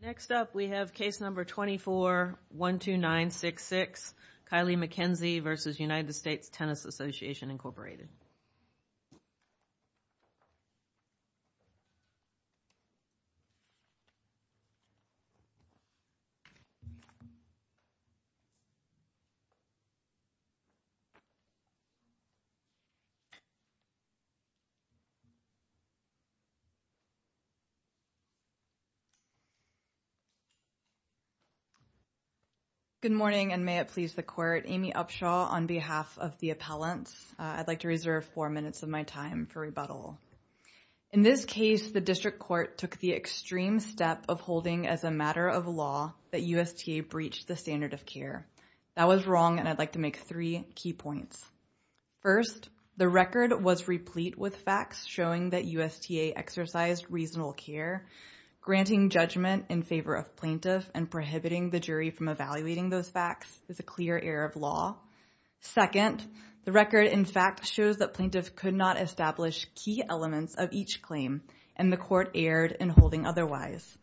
Next up, we have case number 24-12966, Kylie McKenzie v. United States Tennis Association Incorporated Good morning, and may it please the court, Amy Upshaw on behalf of the appellants. I'd like to reserve four minutes of my time for rebuttal. In this case, the district court took the extreme step of holding as a matter of law that USTA breached the standard of care. That was wrong, and I'd like to make three key points. First, the record was replete with facts showing that USTA exercised reasonable care. Granting judgment in favor of plaintiff and prohibiting the jury from evaluating those facts is a clear error of law. Second, the record in fact shows that plaintiff could not establish key elements of each claim, and the court erred in holding otherwise.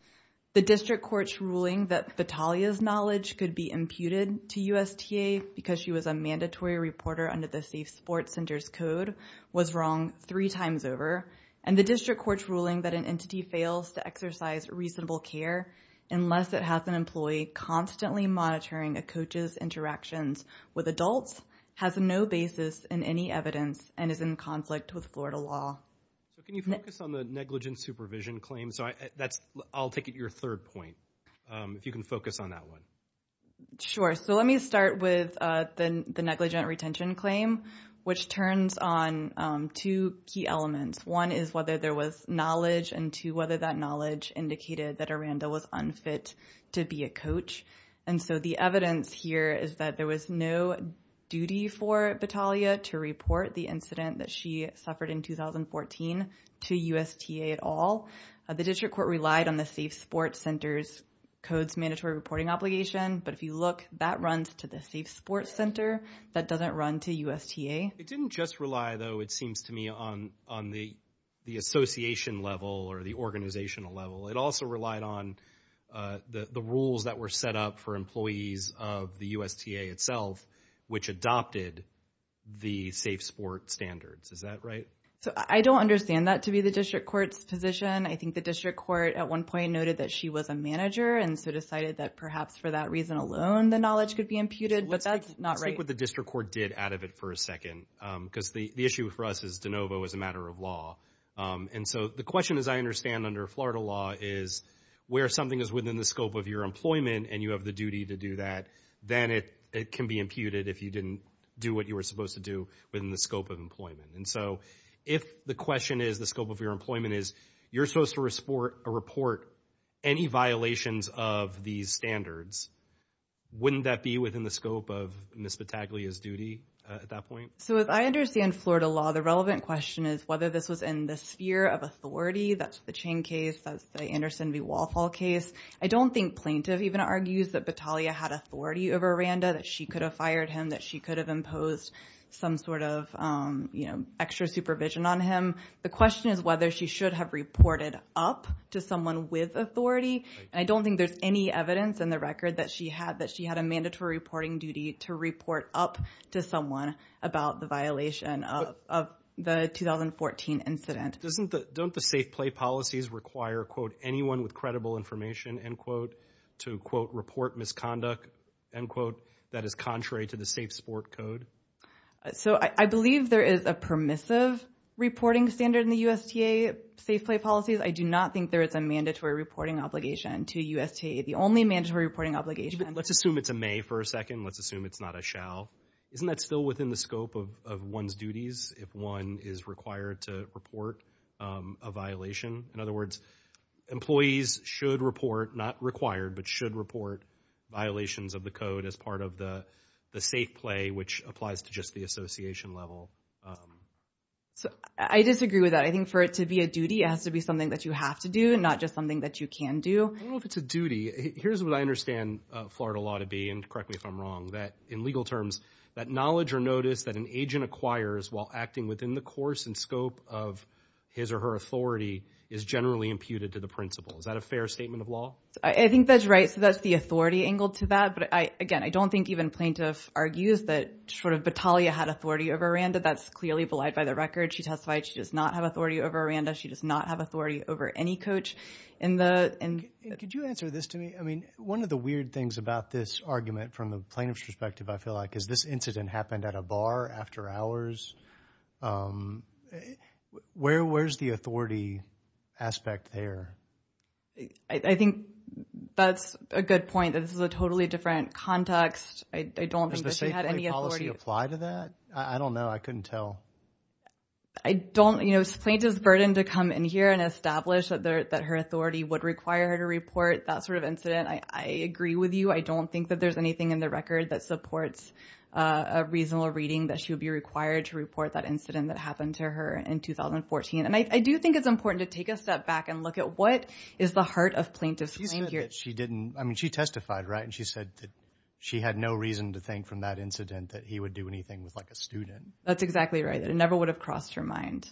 The district court's ruling that Vitalia's knowledge could be imputed to USTA because she was a mandatory reporter under the Safe Sports Center's code was wrong three times over, and the district court's ruling that an entity fails to exercise reasonable care unless it has an employee constantly monitoring a coach's interactions with adults has no basis in any evidence and is in conflict with Florida law. Can you focus on the negligent supervision claim? I'll take it your third point, if you can focus on that one. Sure. Let me start with the negligent retention claim, which turns on two key elements. One is whether there was knowledge, and two, whether that knowledge indicated that Aranda was unfit to be a coach. The evidence here is that there was no duty for Vitalia to report the incident that she suffered in 2014 to USTA at all. The district court relied on the Safe Sports Center's code's mandatory reporting obligation, but if you look, that runs to the Safe Sports Center. That doesn't run to USTA. It didn't just rely, though, it seems to me, on the association level or the organizational level. It also relied on the rules that were set up for employees of the USTA itself, which adopted the safe sport standards. Is that right? I don't understand that to be the district court's position. I think the district court at one point noted that she was a manager and so decided that perhaps for that reason alone, the knowledge could be imputed, but that's not right. Let's take what the district court did out of it for a second, because the issue for us is de novo as a matter of law. The question, as I understand under Florida law, is where something is within the scope of your employment and you have the duty to do that, then it can be imputed if you didn't do what you were supposed to do within the scope of employment. If the question is, the scope of your employment is, you're supposed to report any violations of these standards, wouldn't that be within the scope of Ms. Battaglia's duty at that point? As I understand Florida law, the relevant question is whether this was in the sphere of authority. That's the Chang case, that's the Anderson v. Walfall case. I don't think plaintiff even argues that Battaglia had authority over Randa, that she could have fired him, that she could have imposed some sort of extra supervision on him. The question is whether she should have reported up to someone with authority. I don't think there's any evidence in the record that she had a mandatory reporting duty to report up to someone about the violation of the 2014 incident. Don't the safe play policies require, quote, anyone with credible information, end quote, to, quote, report misconduct, end quote, that is contrary to the safe sport code? I believe there is a permissive reporting standard in the USTA safe play policies. I do not think there is a mandatory reporting obligation to USTA. The only mandatory reporting obligation... Let's assume it's a may for a second. Let's assume it's not a shall. Isn't that still within the scope of one's duties if one is required to report a violation? In other words, employees should report, not required, but should report violations of the code as part of the safe play, which applies to just the association level. I disagree with that. I think for it to be a duty, it has to be something that you have to do and not just something that you can do. I don't know if it's a duty. Here's what I understand Florida law to be, and correct me if I'm wrong, that in legal terms, that knowledge or notice that an agent acquires while acting within the course and scope of his or her authority is generally imputed to the principal. Is that a fair statement of law? I think that's right. So that's the authority angle to that. But again, I don't think even the plaintiff argues that sort of Battaglia had authority over Aranda. That's clearly belied by the record. She testified she does not have authority over Aranda. She does not have authority over any coach in the... Could you answer this to me? I mean, one of the weird things about this argument from the plaintiff's perspective, I feel like, is this incident happened at a bar after hours. Where's the authority aspect there? I think that's a good point. This is a totally different context. I don't think that she had any authority... Does the safety policy apply to that? I don't know. I couldn't tell. I don't, you know, plaintiff's burden to come in here and establish that her authority would require her to report that sort of incident. I agree with you. I don't think that there's anything in the record that supports a reasonable reading that she would be required to report that incident that happened to her in 2014. And I do think it's important to take a step back and look at what is the heart of plaintiff's claim here. She said that she didn't... I mean, she testified, right? And she said that she had no reason to think from that incident that he would do anything with, like, a student. That's exactly right. It never would have crossed her mind.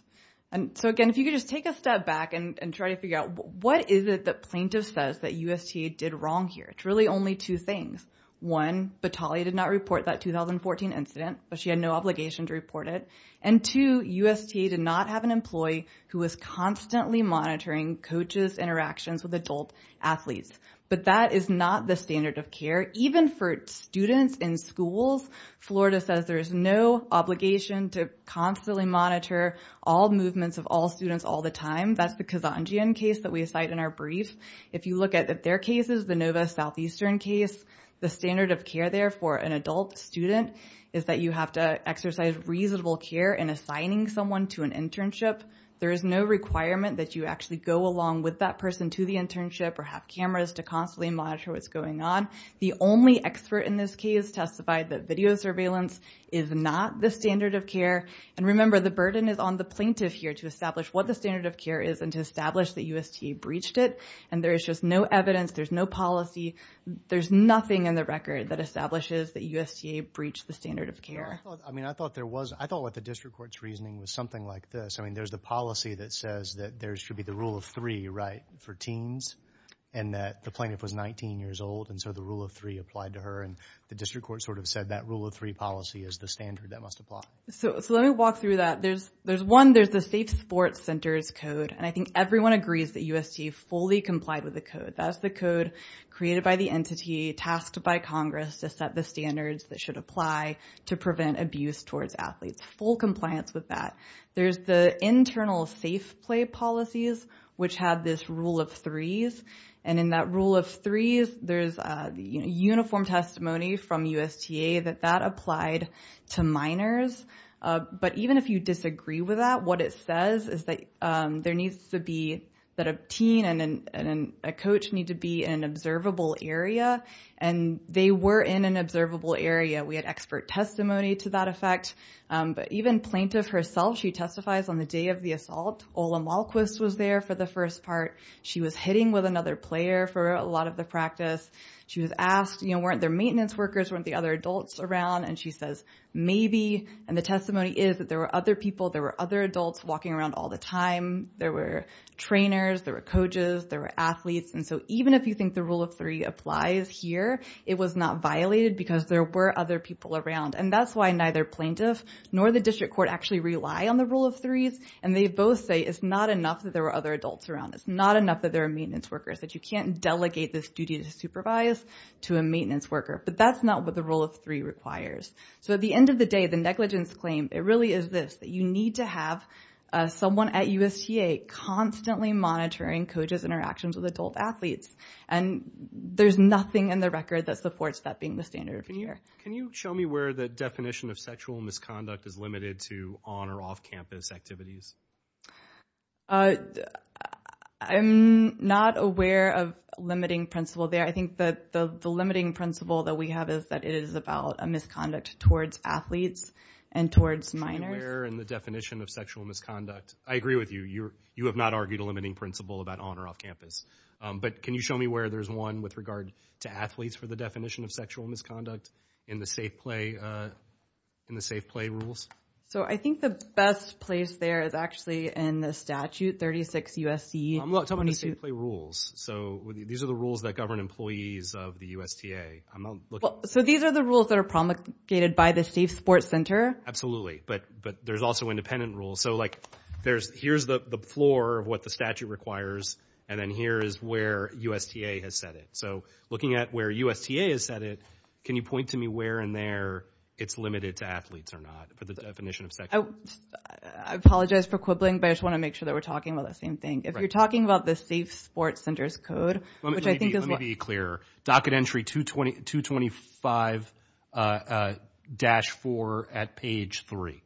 And so, again, if you could just take a step back and try to figure out what is it that plaintiff says that USTA did wrong here. It's really only two things. One, Batali did not report that 2014 incident, but she had no obligation to report it. And two, USTA did not have an employee who was constantly monitoring coaches' interactions with adult athletes. But that is not the standard of care. Even for students in schools, Florida says there is no obligation to constantly monitor all movements of all students all the time. That's the Kazanjian case that we cite in our brief. If you look at their cases, the Nova Southeastern case, the standard of care there for an adult student is that you have to exercise reasonable care in assigning someone to an internship. There is no requirement that you actually go along with that person to the internship or have cameras to constantly monitor what's going on. The only expert in this case testified that video surveillance is not the standard of care. And remember, the burden is on the plaintiff here to establish what the standard of care is and to establish that USTA breached it. And there is just no evidence. There's no policy. There's nothing in the record that establishes that USTA breached the standard of care. I mean, I thought there was. I thought the district court's reasoning was something like this. I mean, there's the policy that says that there should be the rule of three, right, for teens, and that the plaintiff was 19 years old. And so the rule of three applied to her. And the district court sort of said that rule of three policy is the standard that must apply. So let me walk through that. There's one. There's the Safe Sports Centers Code. And I think everyone agrees that USTA fully complied with the code. That's the code created by the entity tasked by Congress to set the standards that should apply to prevent abuse towards athletes. Full compliance with that. There's the internal safe play policies, which have this rule of threes. And in that rule of threes, there's uniform testimony from USTA that that applied to minors. But even if you disagree with that, what it says is that there needs to be that a teen and a coach need to be in an observable area. And they were in an observable area. We had expert testimony to that effect. But even plaintiff herself, she testifies on the day of the assault. Ola Malquist was there for the first part. She was hitting with another player for a lot of the practice. She was asked, you know, weren't there maintenance workers, weren't the other adults around? And she says, maybe. And the testimony is that there were other people, there were other adults walking around all the time. There were trainers, there were coaches, there were athletes. And so even if you think the rule of three applies here, it was not violated because there were other people around. And that's why neither plaintiff nor the district court actually rely on the rule of threes. And they both say it's not enough that there were other adults around. It's not enough that there are maintenance workers, that you can't delegate this duty to supervise to a maintenance worker. But that's not what the rule of three requires. So at the end of the day, the negligence claim, it really is this, that you need to have someone at USTA constantly monitoring coaches' interactions with adult athletes. And there's nothing in the record that supports that being the standard of care. Can you show me where the definition of sexual misconduct is limited to on- or off-campus activities? I'm not aware of a limiting principle there. I think that the limiting principle that we have is that it is about a misconduct towards athletes and towards minors. Show me where in the definition of sexual misconduct. I agree with you. You have not argued a limiting principle about on- or off-campus. But can you show me where there's one with regard to athletes for the definition of sexual misconduct in the safe play rules? So I think the best place there is actually in the statute 36 U.S.C. I'm talking about the safe play rules. So these are the rules that govern employees of the USTA. So these are the rules that are promulgated by the Safe Sports Center? Absolutely. But there's also independent rules. So like there's- here's the floor of what the statute requires. And then here is where USTA has set it. So looking at where USTA has set it, can you point to me where in there it's limited to athletes or not for the definition of sexual- I apologize for quibbling, but I just want to make sure that we're talking about the same thing. If you're talking about the Safe Sports Center's code, which I think is- Docket entry 225-4 at page 3.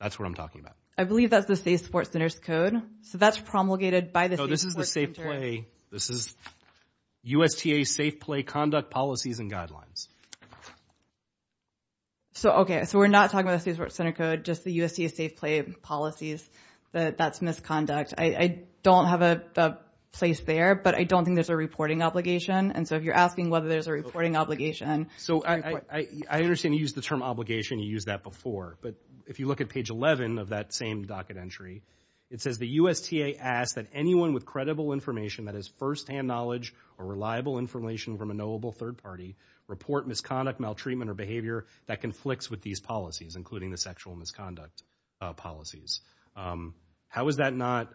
That's what I'm talking about. I believe that's the Safe Sports Center's code. So that's promulgated by the Safe Sports Center? No, this is the safe play. This is USTA safe play conduct policies and guidelines. So, okay. So we're not talking about the Safe Sports Center code, just the USTA safe play policies that that's misconduct. I don't have a place there, but I don't think there's a reporting obligation. And so if you're asking whether there's a reporting obligation- So I understand you used the term obligation. You used that before, but if you look at page 11 of that same docket entry, it says the USTA asks that anyone with credible information that is firsthand knowledge or reliable information from a knowable third party report misconduct, maltreatment, or behavior that conflicts with these policies, including the sexual misconduct policies. How is that not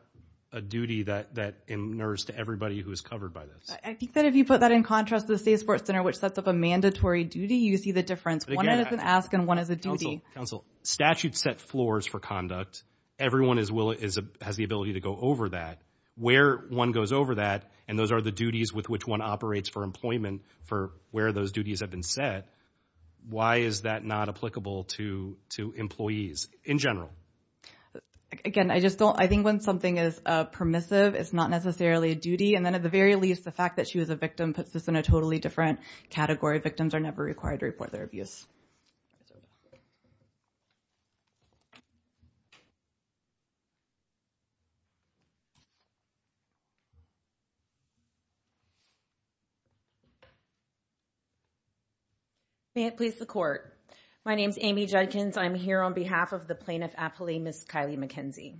a duty that inures to everybody who is covered by this? I think that if you put that in contrast to the Safe Sports Center, which sets up a mandatory duty, you see the difference. One is an ask and one is a duty. Counsel, statute set floors for conduct. Everyone has the ability to go over that. Where one goes over that, and those are the duties with which one operates for employment for where those duties have been set. Why is that not applicable to employees in general? Again, I think when something is permissive, it's not necessarily a duty. And then at the least, the fact that she was a victim puts us in a totally different category. Victims are never required to report their abuse. May it please the court. My name is Amy Judkins. I'm here on behalf of the plaintiff appellee, Ms. Kylie McKenzie.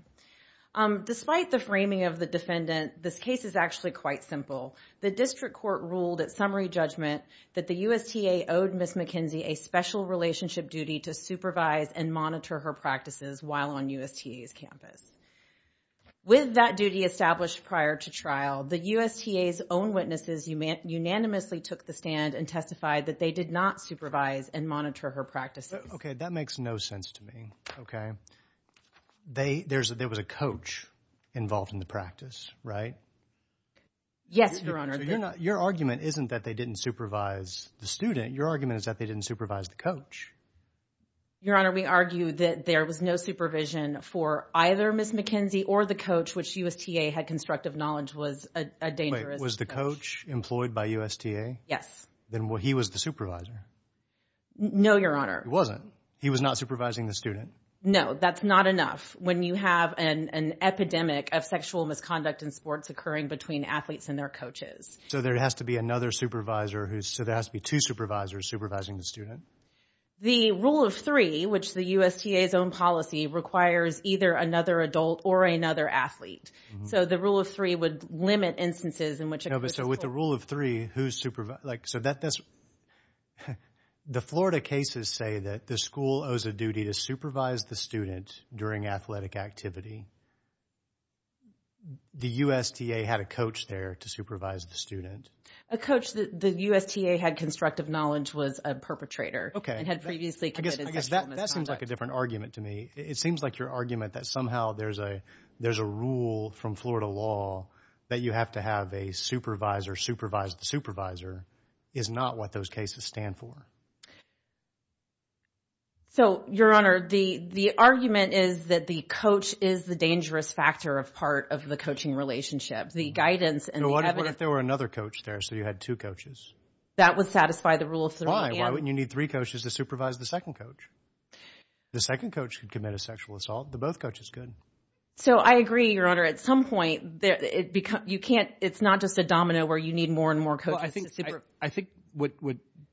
Despite the framing of the defendant, this case is actually quite simple. The district court ruled at summary judgment that the USTA owed Ms. McKenzie a special relationship duty to supervise and monitor her practices while on USTA's campus. With that duty established prior to trial, the USTA's own witnesses unanimously took the stand and testified that they did not supervise and monitor her practices. Okay. That makes no sense to me. Okay. There was a coach involved in the practice, right? Yes, Your Honor. Your argument isn't that they didn't supervise the student. Your argument is that they didn't supervise the coach. Your Honor, we argue that there was no supervision for either Ms. McKenzie or the coach, which USTA had constructive knowledge was a dangerous coach. Was the coach employed by USTA? Yes. Then he was the supervisor. No, Your Honor. He wasn't. He was not supervising the student. No, that's not enough. When you have an epidemic of sexual misconduct in sports occurring between athletes and their coaches. So there has to be another supervisor who's, so there has to be two supervisors supervising the student. The rule of three, which the USTA's own policy requires either another adult or another athlete. So the rule of three would limit instances in which- So with the rule of three, who's supervising? The Florida cases say that the school owes a duty to supervise the student during athletic activity. The USTA had a coach there to supervise the student. A coach that the USTA had constructive knowledge was a perpetrator. Okay. And had previously committed sexual misconduct. I guess that seems like a different argument to me. It seems like your argument that somehow there's a rule from Florida law that you have to have a supervisor supervise the supervisor is not what those cases stand for. So Your Honor, the argument is that the coach is the dangerous factor of part of the coaching relationship. The guidance and the evidence- What if there were another coach there, so you had two coaches? That would satisfy the rule of three. Why? Why wouldn't you need three coaches to supervise the second coach? The second coach could commit a sexual assault. The both coaches could. So I agree, Your Honor. At some point, it's not just a domino where you need more and more coaches. I think what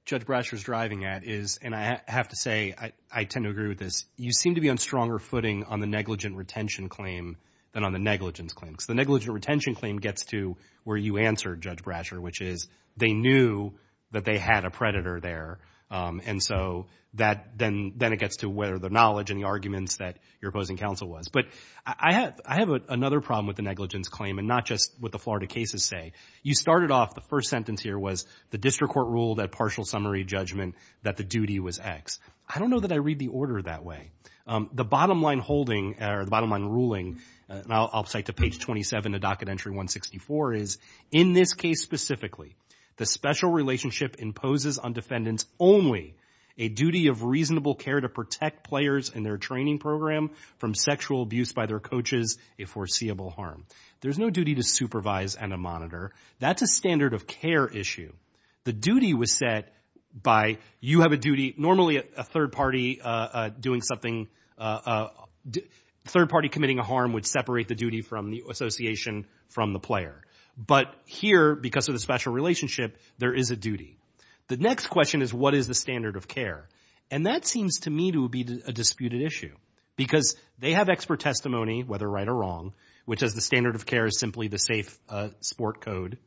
Judge Brasher is driving at is, and I have to say, I tend to agree with this, you seem to be on stronger footing on the negligent retention claim than on the negligence claim. Because the negligent retention claim gets to where you answered, Judge Brasher, which is they knew that they had a predator there. And so then it gets to whether the knowledge and arguments that your opposing counsel was. But I have another problem with the negligence claim, and not just what the Florida cases say. You started off, the first sentence here was, the district court ruled at partial summary judgment that the duty was X. I don't know that I read the order that way. The bottom line holding, or the bottom line ruling, I'll cite to page 27 of Docket Entry 164, is, in this case specifically, the special relationship imposes on defendants only a duty of reasonable care to protect players and their training program from sexual abuse by their coaches, a foreseeable harm. There's no duty to supervise and to monitor. That's a standard of care issue. The duty was set by, you have a duty, normally a third party doing something, a third party committing a harm would separate the duty from the association from the player. But here, because of the special relationship, there is a duty. The next question is, what is the standard of care? And that seems to me to be a disputed issue. Because they have expert testimony, whether right or wrong, which is the standard of care is simply the safe sport code.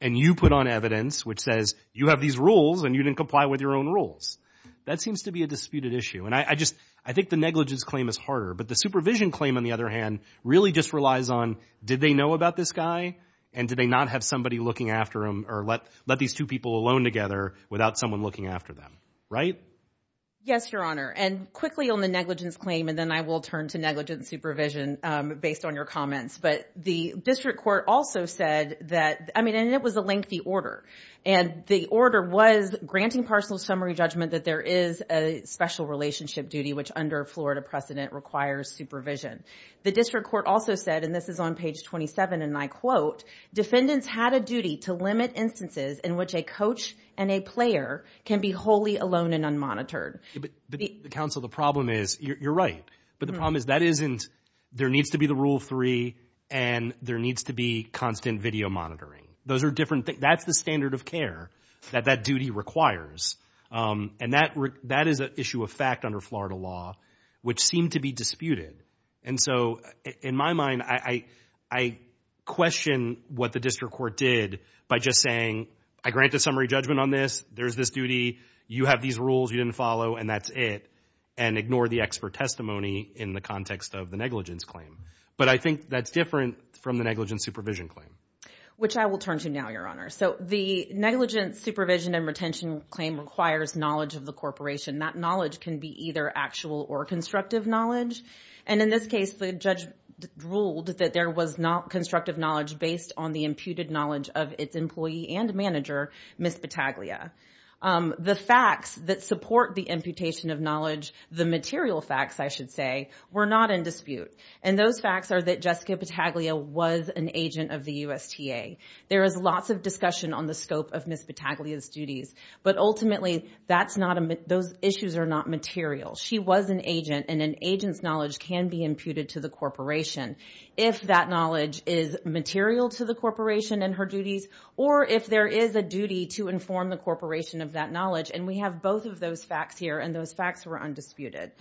And you put on evidence which says, you have these rules and you didn't comply with your own rules. That seems to be a disputed issue. And I just, I think the negligence claim is harder. But the supervision claim, on the other hand, really just relies on, did they know about this guy? And did they not have somebody looking after him, or let these two people alone together without someone looking after them, right? Yes, Your Honor. And quickly on the negligence claim, and then I will turn to negligence supervision based on your comments. But the district court also said that, I mean, and it was a lengthy order. And the order was granting personal summary judgment that there is a special relationship duty, which under Florida precedent requires supervision. The district court also said, and this is on page 27, and I quote, defendants had a duty to limit But counsel, the problem is, you're right. But the problem is that isn't, there needs to be the rule three, and there needs to be constant video monitoring. Those are different things. That's the standard of care that that duty requires. And that is an issue of fact under Florida law, which seemed to be disputed. And so in my mind, I question what the district court did by just saying, I grant the summary judgment on this. There's this duty. You have these rules you didn't follow, and that's it. And ignore the expert testimony in the context of the negligence claim. But I think that's different from the negligence supervision claim. Which I will turn to now, Your Honor. So the negligence supervision and retention claim requires knowledge of the corporation. That knowledge can be either actual or constructive knowledge. And in this case, the judge ruled that there was not constructive knowledge based on the imputed knowledge of its employee and manager, Ms. Battaglia. The facts that support the imputation of knowledge, the material facts, I should say, were not in dispute. And those facts are that Jessica Battaglia was an agent of the USTA. There is lots of discussion on the scope of Ms. Battaglia's duties. But ultimately, that's not, those issues are not material. She was an agent, and an agent's knowledge can be imputed to the corporation. If that knowledge is material to the corporation and her duties, or if there is a duty to inform the corporation of that knowledge. And we have both of those facts here, and those facts were undisputed.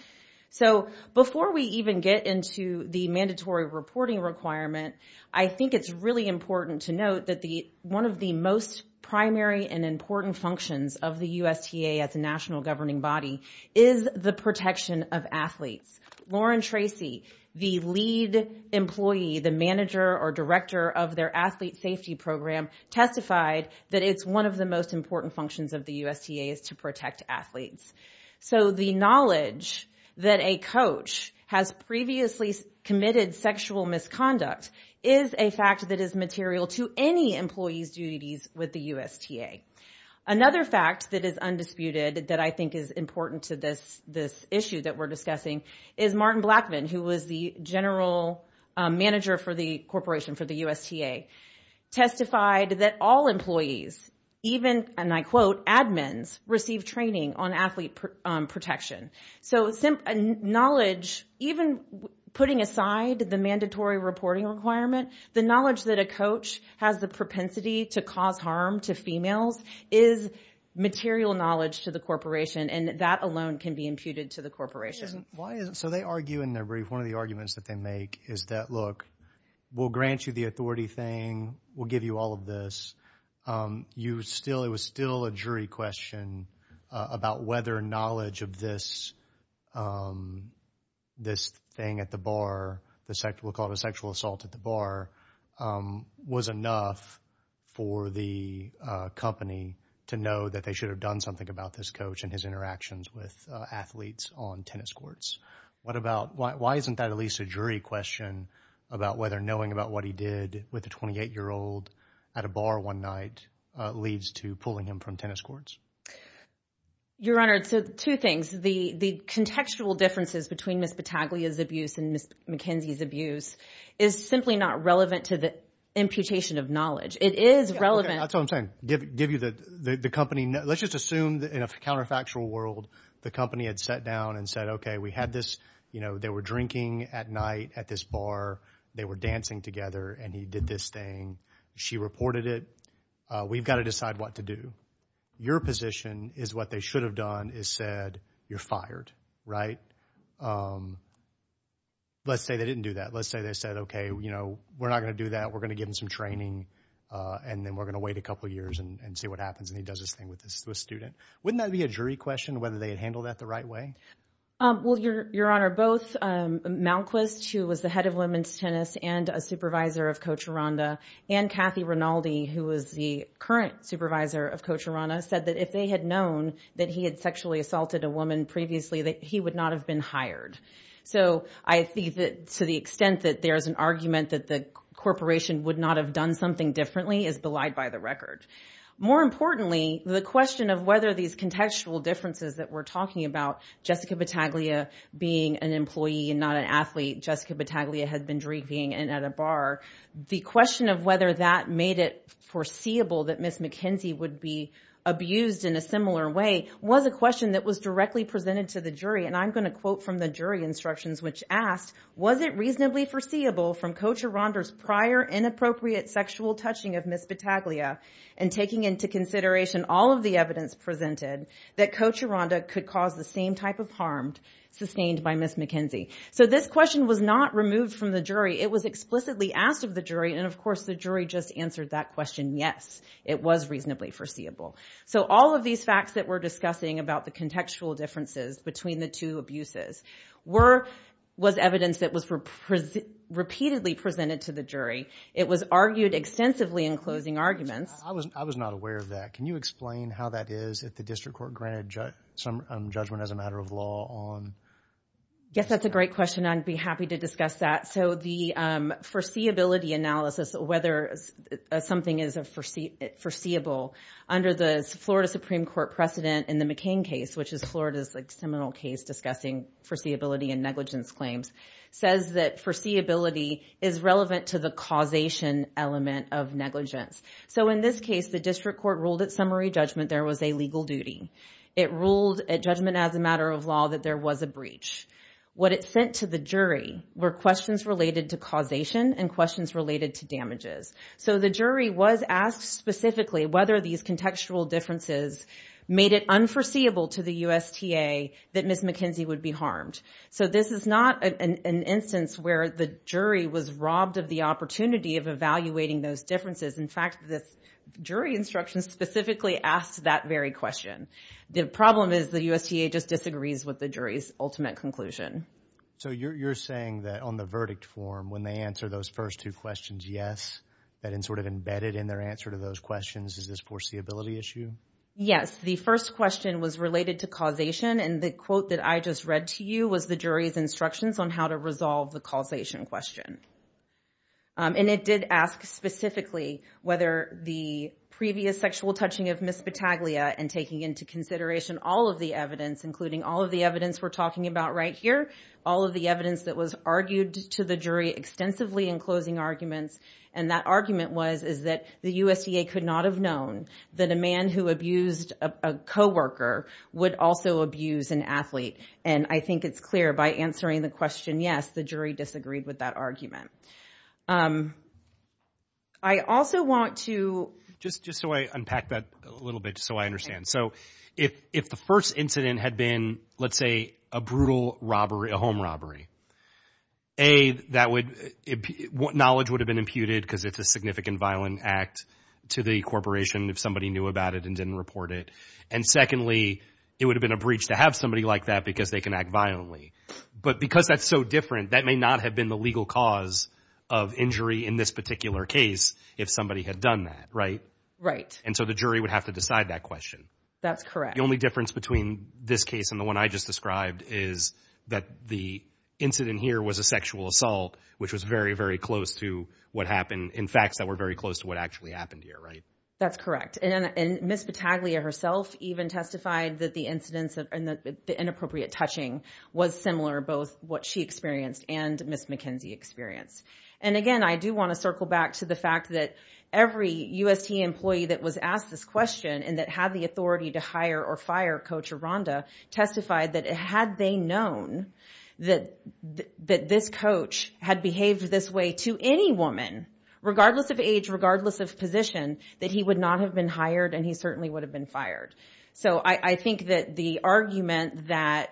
So before we even get into the mandatory reporting requirement, I think it's really important to note that one of the most primary and important functions of the USTA as a national governing body is the protection of athletes. Lauren Tracy, the lead employee, the manager or director of their athlete safety program, testified that it's one of the most important functions of the USTA is to protect athletes. So the knowledge that a coach has previously committed sexual misconduct is a fact that is material to any employee's duties with the USTA. Another fact that is undisputed that I think is important to this issue that we're discussing is Martin Blackman, who was the general manager for the corporation for the USTA, testified that all employees, even, and I quote, admins receive training on athlete protection. So knowledge, even putting aside the mandatory reporting requirement, the knowledge that a coach has the propensity to cause harm to females is material knowledge to the corporation, and that alone can be imputed to the corporation. So they argue in their brief, one of the arguments that they make is that, look, we'll grant you the authority thing, we'll give you all of this. It was still a jury question about whether knowledge of this thing at the bar, we'll call it a sexual assault at the bar, was enough for the company to know that they should have done something about this coach and his interactions with athletes on tennis courts. What about, why isn't that at least a jury question about whether knowing about what he did with a 28-year-old at a bar one night leads to pulling him from tennis courts? Your Honor, so two things. The contextual differences between Ms. Battaglia's abuse and Ms. McKenzie's abuse is simply not relevant to the imputation of knowledge. It is relevant. That's what I'm saying. Give you the company, let's just assume that in a counterfactual world, the company had sat down and said, okay, we had this, you know, they were drinking at night at this bar, they were dancing together, and he did this thing. She reported it. We've got to decide what to do. Your position is what they should have done is said, you're fired, right? Let's say they didn't do that. Let's say they said, okay, you know, we're not going to do that. We're going to give them some training, and then we're going to wait a couple of years and see what happens. And he does this thing with this student. Wouldn't that be a jury question, whether they had handled that the right way? Well, Your Honor, both Malquis, who was the head of women's tennis and a supervisor of Coach Aranda, and Kathy Rinaldi, who was the current supervisor of Coach Aranda, said that if they had known that he had sexually assaulted a woman previously, that he would not have been hired. So I think that to the extent that there's an argument that the corporation would not have done something differently is belied by the record. More importantly, the question of whether these contextual differences that we're talking about, Jessica Bataglia being an employee and not an athlete, Jessica Bataglia had been drinking and at a bar. The question of whether that made it foreseeable that Ms. McKenzie would be abused in a similar way was a question that was directly presented to the jury. And I'm going to quote from the jury instructions, which asked, was it reasonably foreseeable from Coach Aranda's prior inappropriate sexual touching of Ms. Bataglia and taking into consideration all of the evidence presented that Coach Aranda could cause the same type of harm sustained by Ms. McKenzie? So this question was not removed from the jury. It was explicitly asked of the jury. And of course, the jury just answered that question, yes, it was reasonably foreseeable. So all of these facts that we're discussing about the contextual differences between the two abuses was evidence that was repeatedly presented to the jury. It was argued extensively in closing arguments. I was not aware of that. Can you explain how that is that the district court granted some judgment as a matter of law on? Yes, that's a great question. I'd be happy to discuss that. So the foreseeability analysis, whether something is foreseeable under the Florida Supreme Court precedent in the McCain case, which is Florida's seminal case discussing foreseeability and negligence claims, says that foreseeability is relevant to the causation element of negligence. So in this case, the district court ruled at summary judgment there was a legal duty. It ruled at judgment as a matter of law that there was a breach. What it sent to the jury were questions related to causation and questions related to damages. So the jury was asked specifically whether these contextual differences made it unforeseeable to the USTA that Ms. McKenzie would be harmed. So this is not an instance where the jury was robbed of the opportunity of evaluating those differences. In fact, this jury instruction specifically asked that very question. The problem is the USTA just disagrees with the jury's ultimate conclusion. So you're saying that on the verdict form when they answer those first two questions, yes, that in sort of embedded in their answer to those questions, is this foreseeability issue? Yes, the first question was related to causation and the quote that I just read to you was the jury's instructions on how to resolve the causation question. And it did ask specifically whether the previous sexual touching of Ms. Battaglia and taking into consideration all of the evidence, including all of the evidence we're talking about right here, all of the evidence that was argued to the jury extensively in closing arguments. And that argument was, is that the USDA could not have known that a man who abused a coworker would also abuse an athlete. And I think it's clear by answering the question, yes, the jury disagreed with that argument. I also want to... Just so I unpack that a little bit so I understand. So if the first incident had been, let's say, a brutal robbery, a home robbery, A, that would, knowledge would have been imputed because it's a significant violent act to the corporation if somebody knew about it and didn't report it. And secondly, it would have been a breach to have somebody like that because they can act violently. But because that's so different, that may not have been the legal cause of injury in this particular case if somebody had done that, right? Right. And so the jury would have to decide that question. That's correct. The only difference between this case and the one I just described is that the incident here was a sexual assault, which was very, very close to what happened in facts that were very close to what actually happened here, right? That's correct. And Ms. Battaglia herself even testified that the incidents and the inappropriate touching was similar, both what she experienced and Ms. McKenzie experienced. And again, I do want to circle back to the fact that every USTA employee that was asked this question and that had the authority to hire or fire Coach Aranda testified that had they known that this coach had behaved this way to any woman, regardless of age, regardless of position, that he would not have been hired and he certainly would have been fired. So I think that the argument that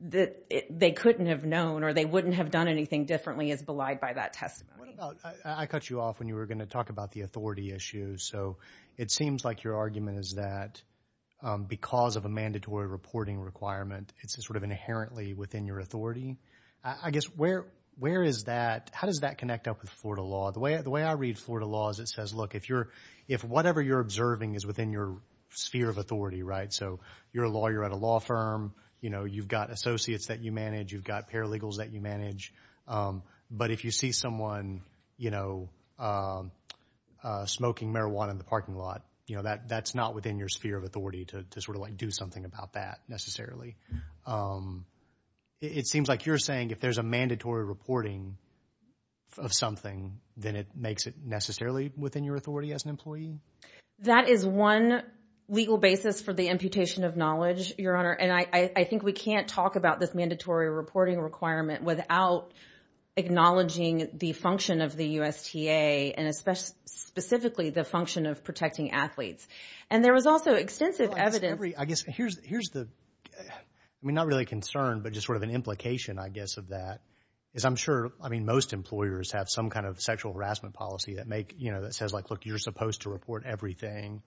they couldn't have known or they wouldn't have done anything differently is belied by that testimony. What about, I cut you off when you were going to talk about the authority issue. So it seems like your argument is that because of a mandatory reporting requirement, it's sort of inherently within your authority. I guess, where is that? How does that connect up with Florida law? The way I read Florida law is it says, look, if you're, is within your sphere of authority, right? So you're a lawyer at a law firm, you know, you've got associates that you manage, you've got paralegals that you manage. But if you see someone, you know, smoking marijuana in the parking lot, you know, that's not within your sphere of authority to sort of like do something about that necessarily. It seems like you're saying if there's a mandatory reporting of something, then it makes it necessarily within your authority as an employee? That is one legal basis for the imputation of knowledge, Your Honor. And I, I think we can't talk about this mandatory reporting requirement without acknowledging the function of the USTA and especially, specifically the function of protecting athletes. And there was also extensive evidence. I guess here's, here's the, I mean, not really a concern, but just sort of an implication, I guess of that is I'm sure, I mean, most employers have some kind of sexual harassment policy that make, you know, that says like, look, you're supposed to report everything.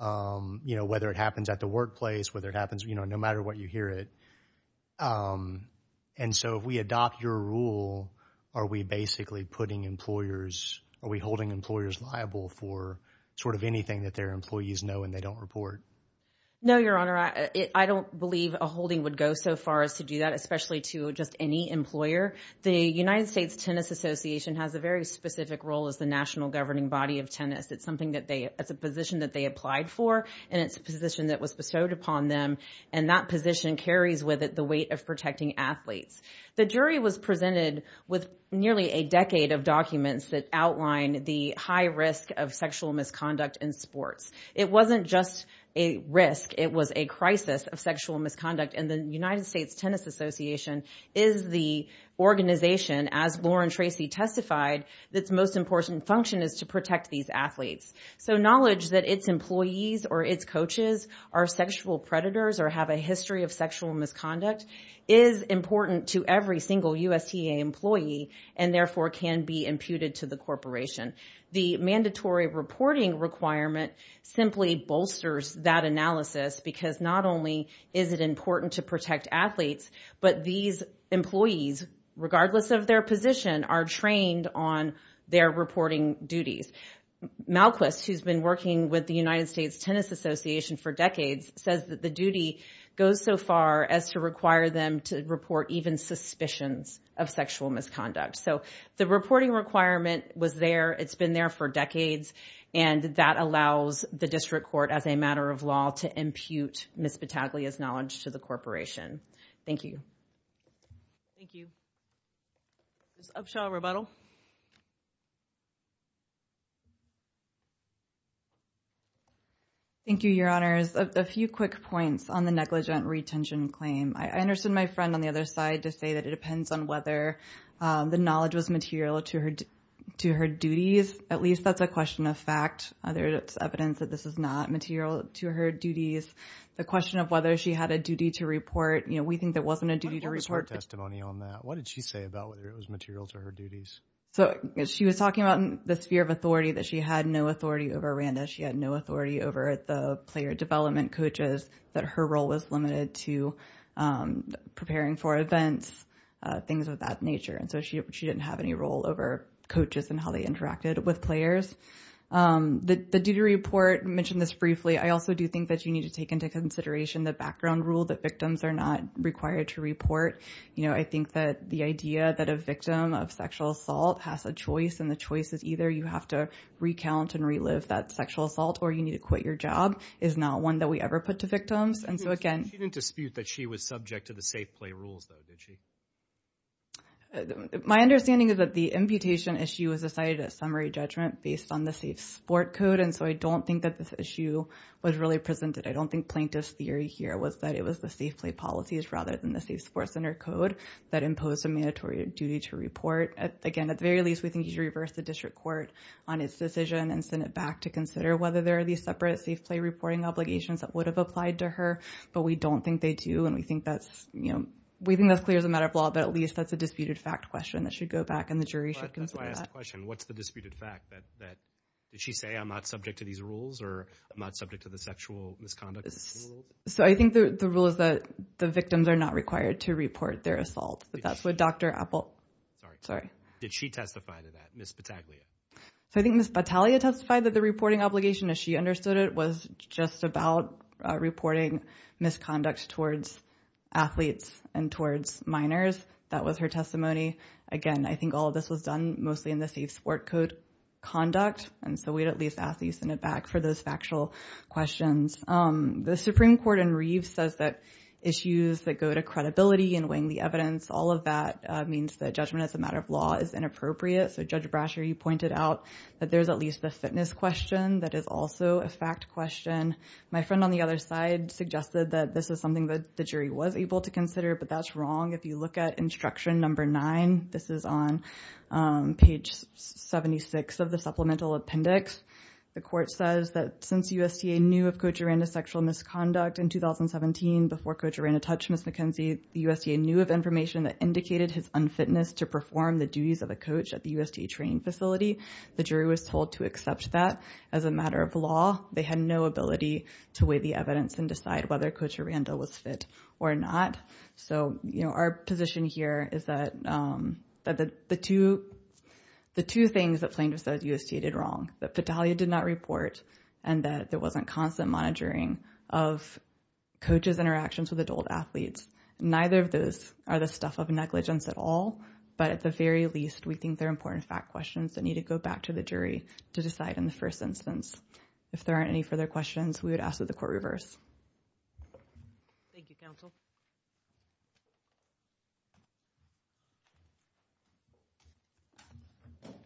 You know, whether it happens at the workplace, whether it happens, you know, no matter what, you hear it. And so if we adopt your rule, are we basically putting employers, are we holding employers liable for sort of anything that their employees know and they don't report? No, Your Honor, I don't believe a holding would go so far as to do that, especially to just any employer. The United States Tennis Association has a very specific role as the national governing body of tennis. It's something that they, it's a position that they applied for, and it's a position that was bestowed upon them. And that position carries with it the weight of protecting athletes. The jury was presented with nearly a decade of documents that outline the high risk of sexual misconduct in sports. It wasn't just a risk. It was a crisis of sexual misconduct. And the United States Tennis Association is the organization, as Lauren Tracy testified, that's most important function is to protect these athletes. So knowledge that its employees or its coaches are sexual predators or have a history of sexual misconduct is important to every single USTA employee, and therefore can be imputed to the corporation. The mandatory reporting requirement simply bolsters that analysis, because not only is it important to protect athletes, but these employees, regardless of their position, are trained on their reporting duties. Malquis, who's been working with the United States Tennis Association for decades, says that the duty goes so far as to require them to report even suspicions of sexual misconduct. So the reporting requirement was there. It's been there for decades. And that allows the district court, as a matter of law, to impute Ms. Battaglia's knowledge to the corporation. Thank you. Thank you. Ms. Upshaw, rebuttal. Thank you, Your Honors. A few quick points on the negligent retention claim. I understood my friend on the other side to say that it depends on whether the knowledge was material to her duties. At least that's a question of fact. There's evidence that this is not material to her duties. The question of whether she had a duty to report, you know, we think there wasn't a duty to report. What was her testimony on that? What did she say about whether it was material to her duties? So she was talking about the sphere of authority, that she had no authority over Randa. She had no authority over the player development coaches, that her role was limited to preparing for events, things of that nature. So she didn't have any role over coaches and how they interacted with players. The duty to report, I mentioned this briefly, I also do think that you need to take into consideration the background rule that victims are not required to report. You know, I think that the idea that a victim of sexual assault has a choice, and the choice is either you have to recount and relive that sexual assault, or you need to quit your job, is not one that we ever put to victims. And so again— She didn't dispute that she was subject to the safe play rules, though, did she? My understanding is that the imputation issue was decided at summary judgment based on the safe sport code, and so I don't think that this issue was really presented. I don't think plaintiff's theory here was that it was the safe play policies rather than the safe sport center code that imposed a mandatory duty to report. Again, at the very least, we think you should reverse the district court on its decision and send it back to consider whether there are these separate safe play reporting obligations that would have applied to her, but we don't think they do. And we think that's, you know, we think that's clear as a matter of law, but at least that's a disputed fact question that should go back, and the jury should consider that. That's why I asked the question, what's the disputed fact? Did she say, I'm not subject to these rules, or I'm not subject to the sexual misconduct rule? So I think the rule is that the victims are not required to report their assault, but that's what Dr. Apple— Sorry. Sorry. Did she testify to that, Ms. Battaglia? So I think Ms. Battaglia testified that the reporting obligation, as she understood it, was just about reporting misconduct towards athletes and towards minors. That was her testimony. Again, I think all of this was done mostly in the safe sport code conduct, and so we'd at least ask that you send it back for those factual questions. The Supreme Court in Reeves says that issues that go to credibility and weighing the evidence, all of that means that judgment as a matter of law is inappropriate. So Judge Brasher, you pointed out that there's at least the fitness question that is also a fact question. My friend on the other side suggested that this is something that the jury was able to consider, but that's wrong. If you look at Instruction Number 9, this is on page 76 of the Supplemental Appendix, the court says that since USTA knew of Coach Aranda's sexual misconduct in 2017 before Coach Aranda touched Ms. McKenzie, the USDA knew of information that indicated his unfitness to perform the duties of a coach at the USDA training facility. The jury was told to accept that as a matter of law. They had no ability to weigh the evidence and decide whether Coach Aranda was fit or not. So, you know, our position here is that the two things that plaintiffs said USDA did wrong, that Petalia did not report and that there wasn't constant monitoring of coaches' interactions with adult athletes. Neither of those are the stuff of negligence at all, but at the very least, we think they're important fact questions that need to go back to the jury to decide in the first instance if there aren't any further questions we would ask that the court reverse. Thank you, counsel.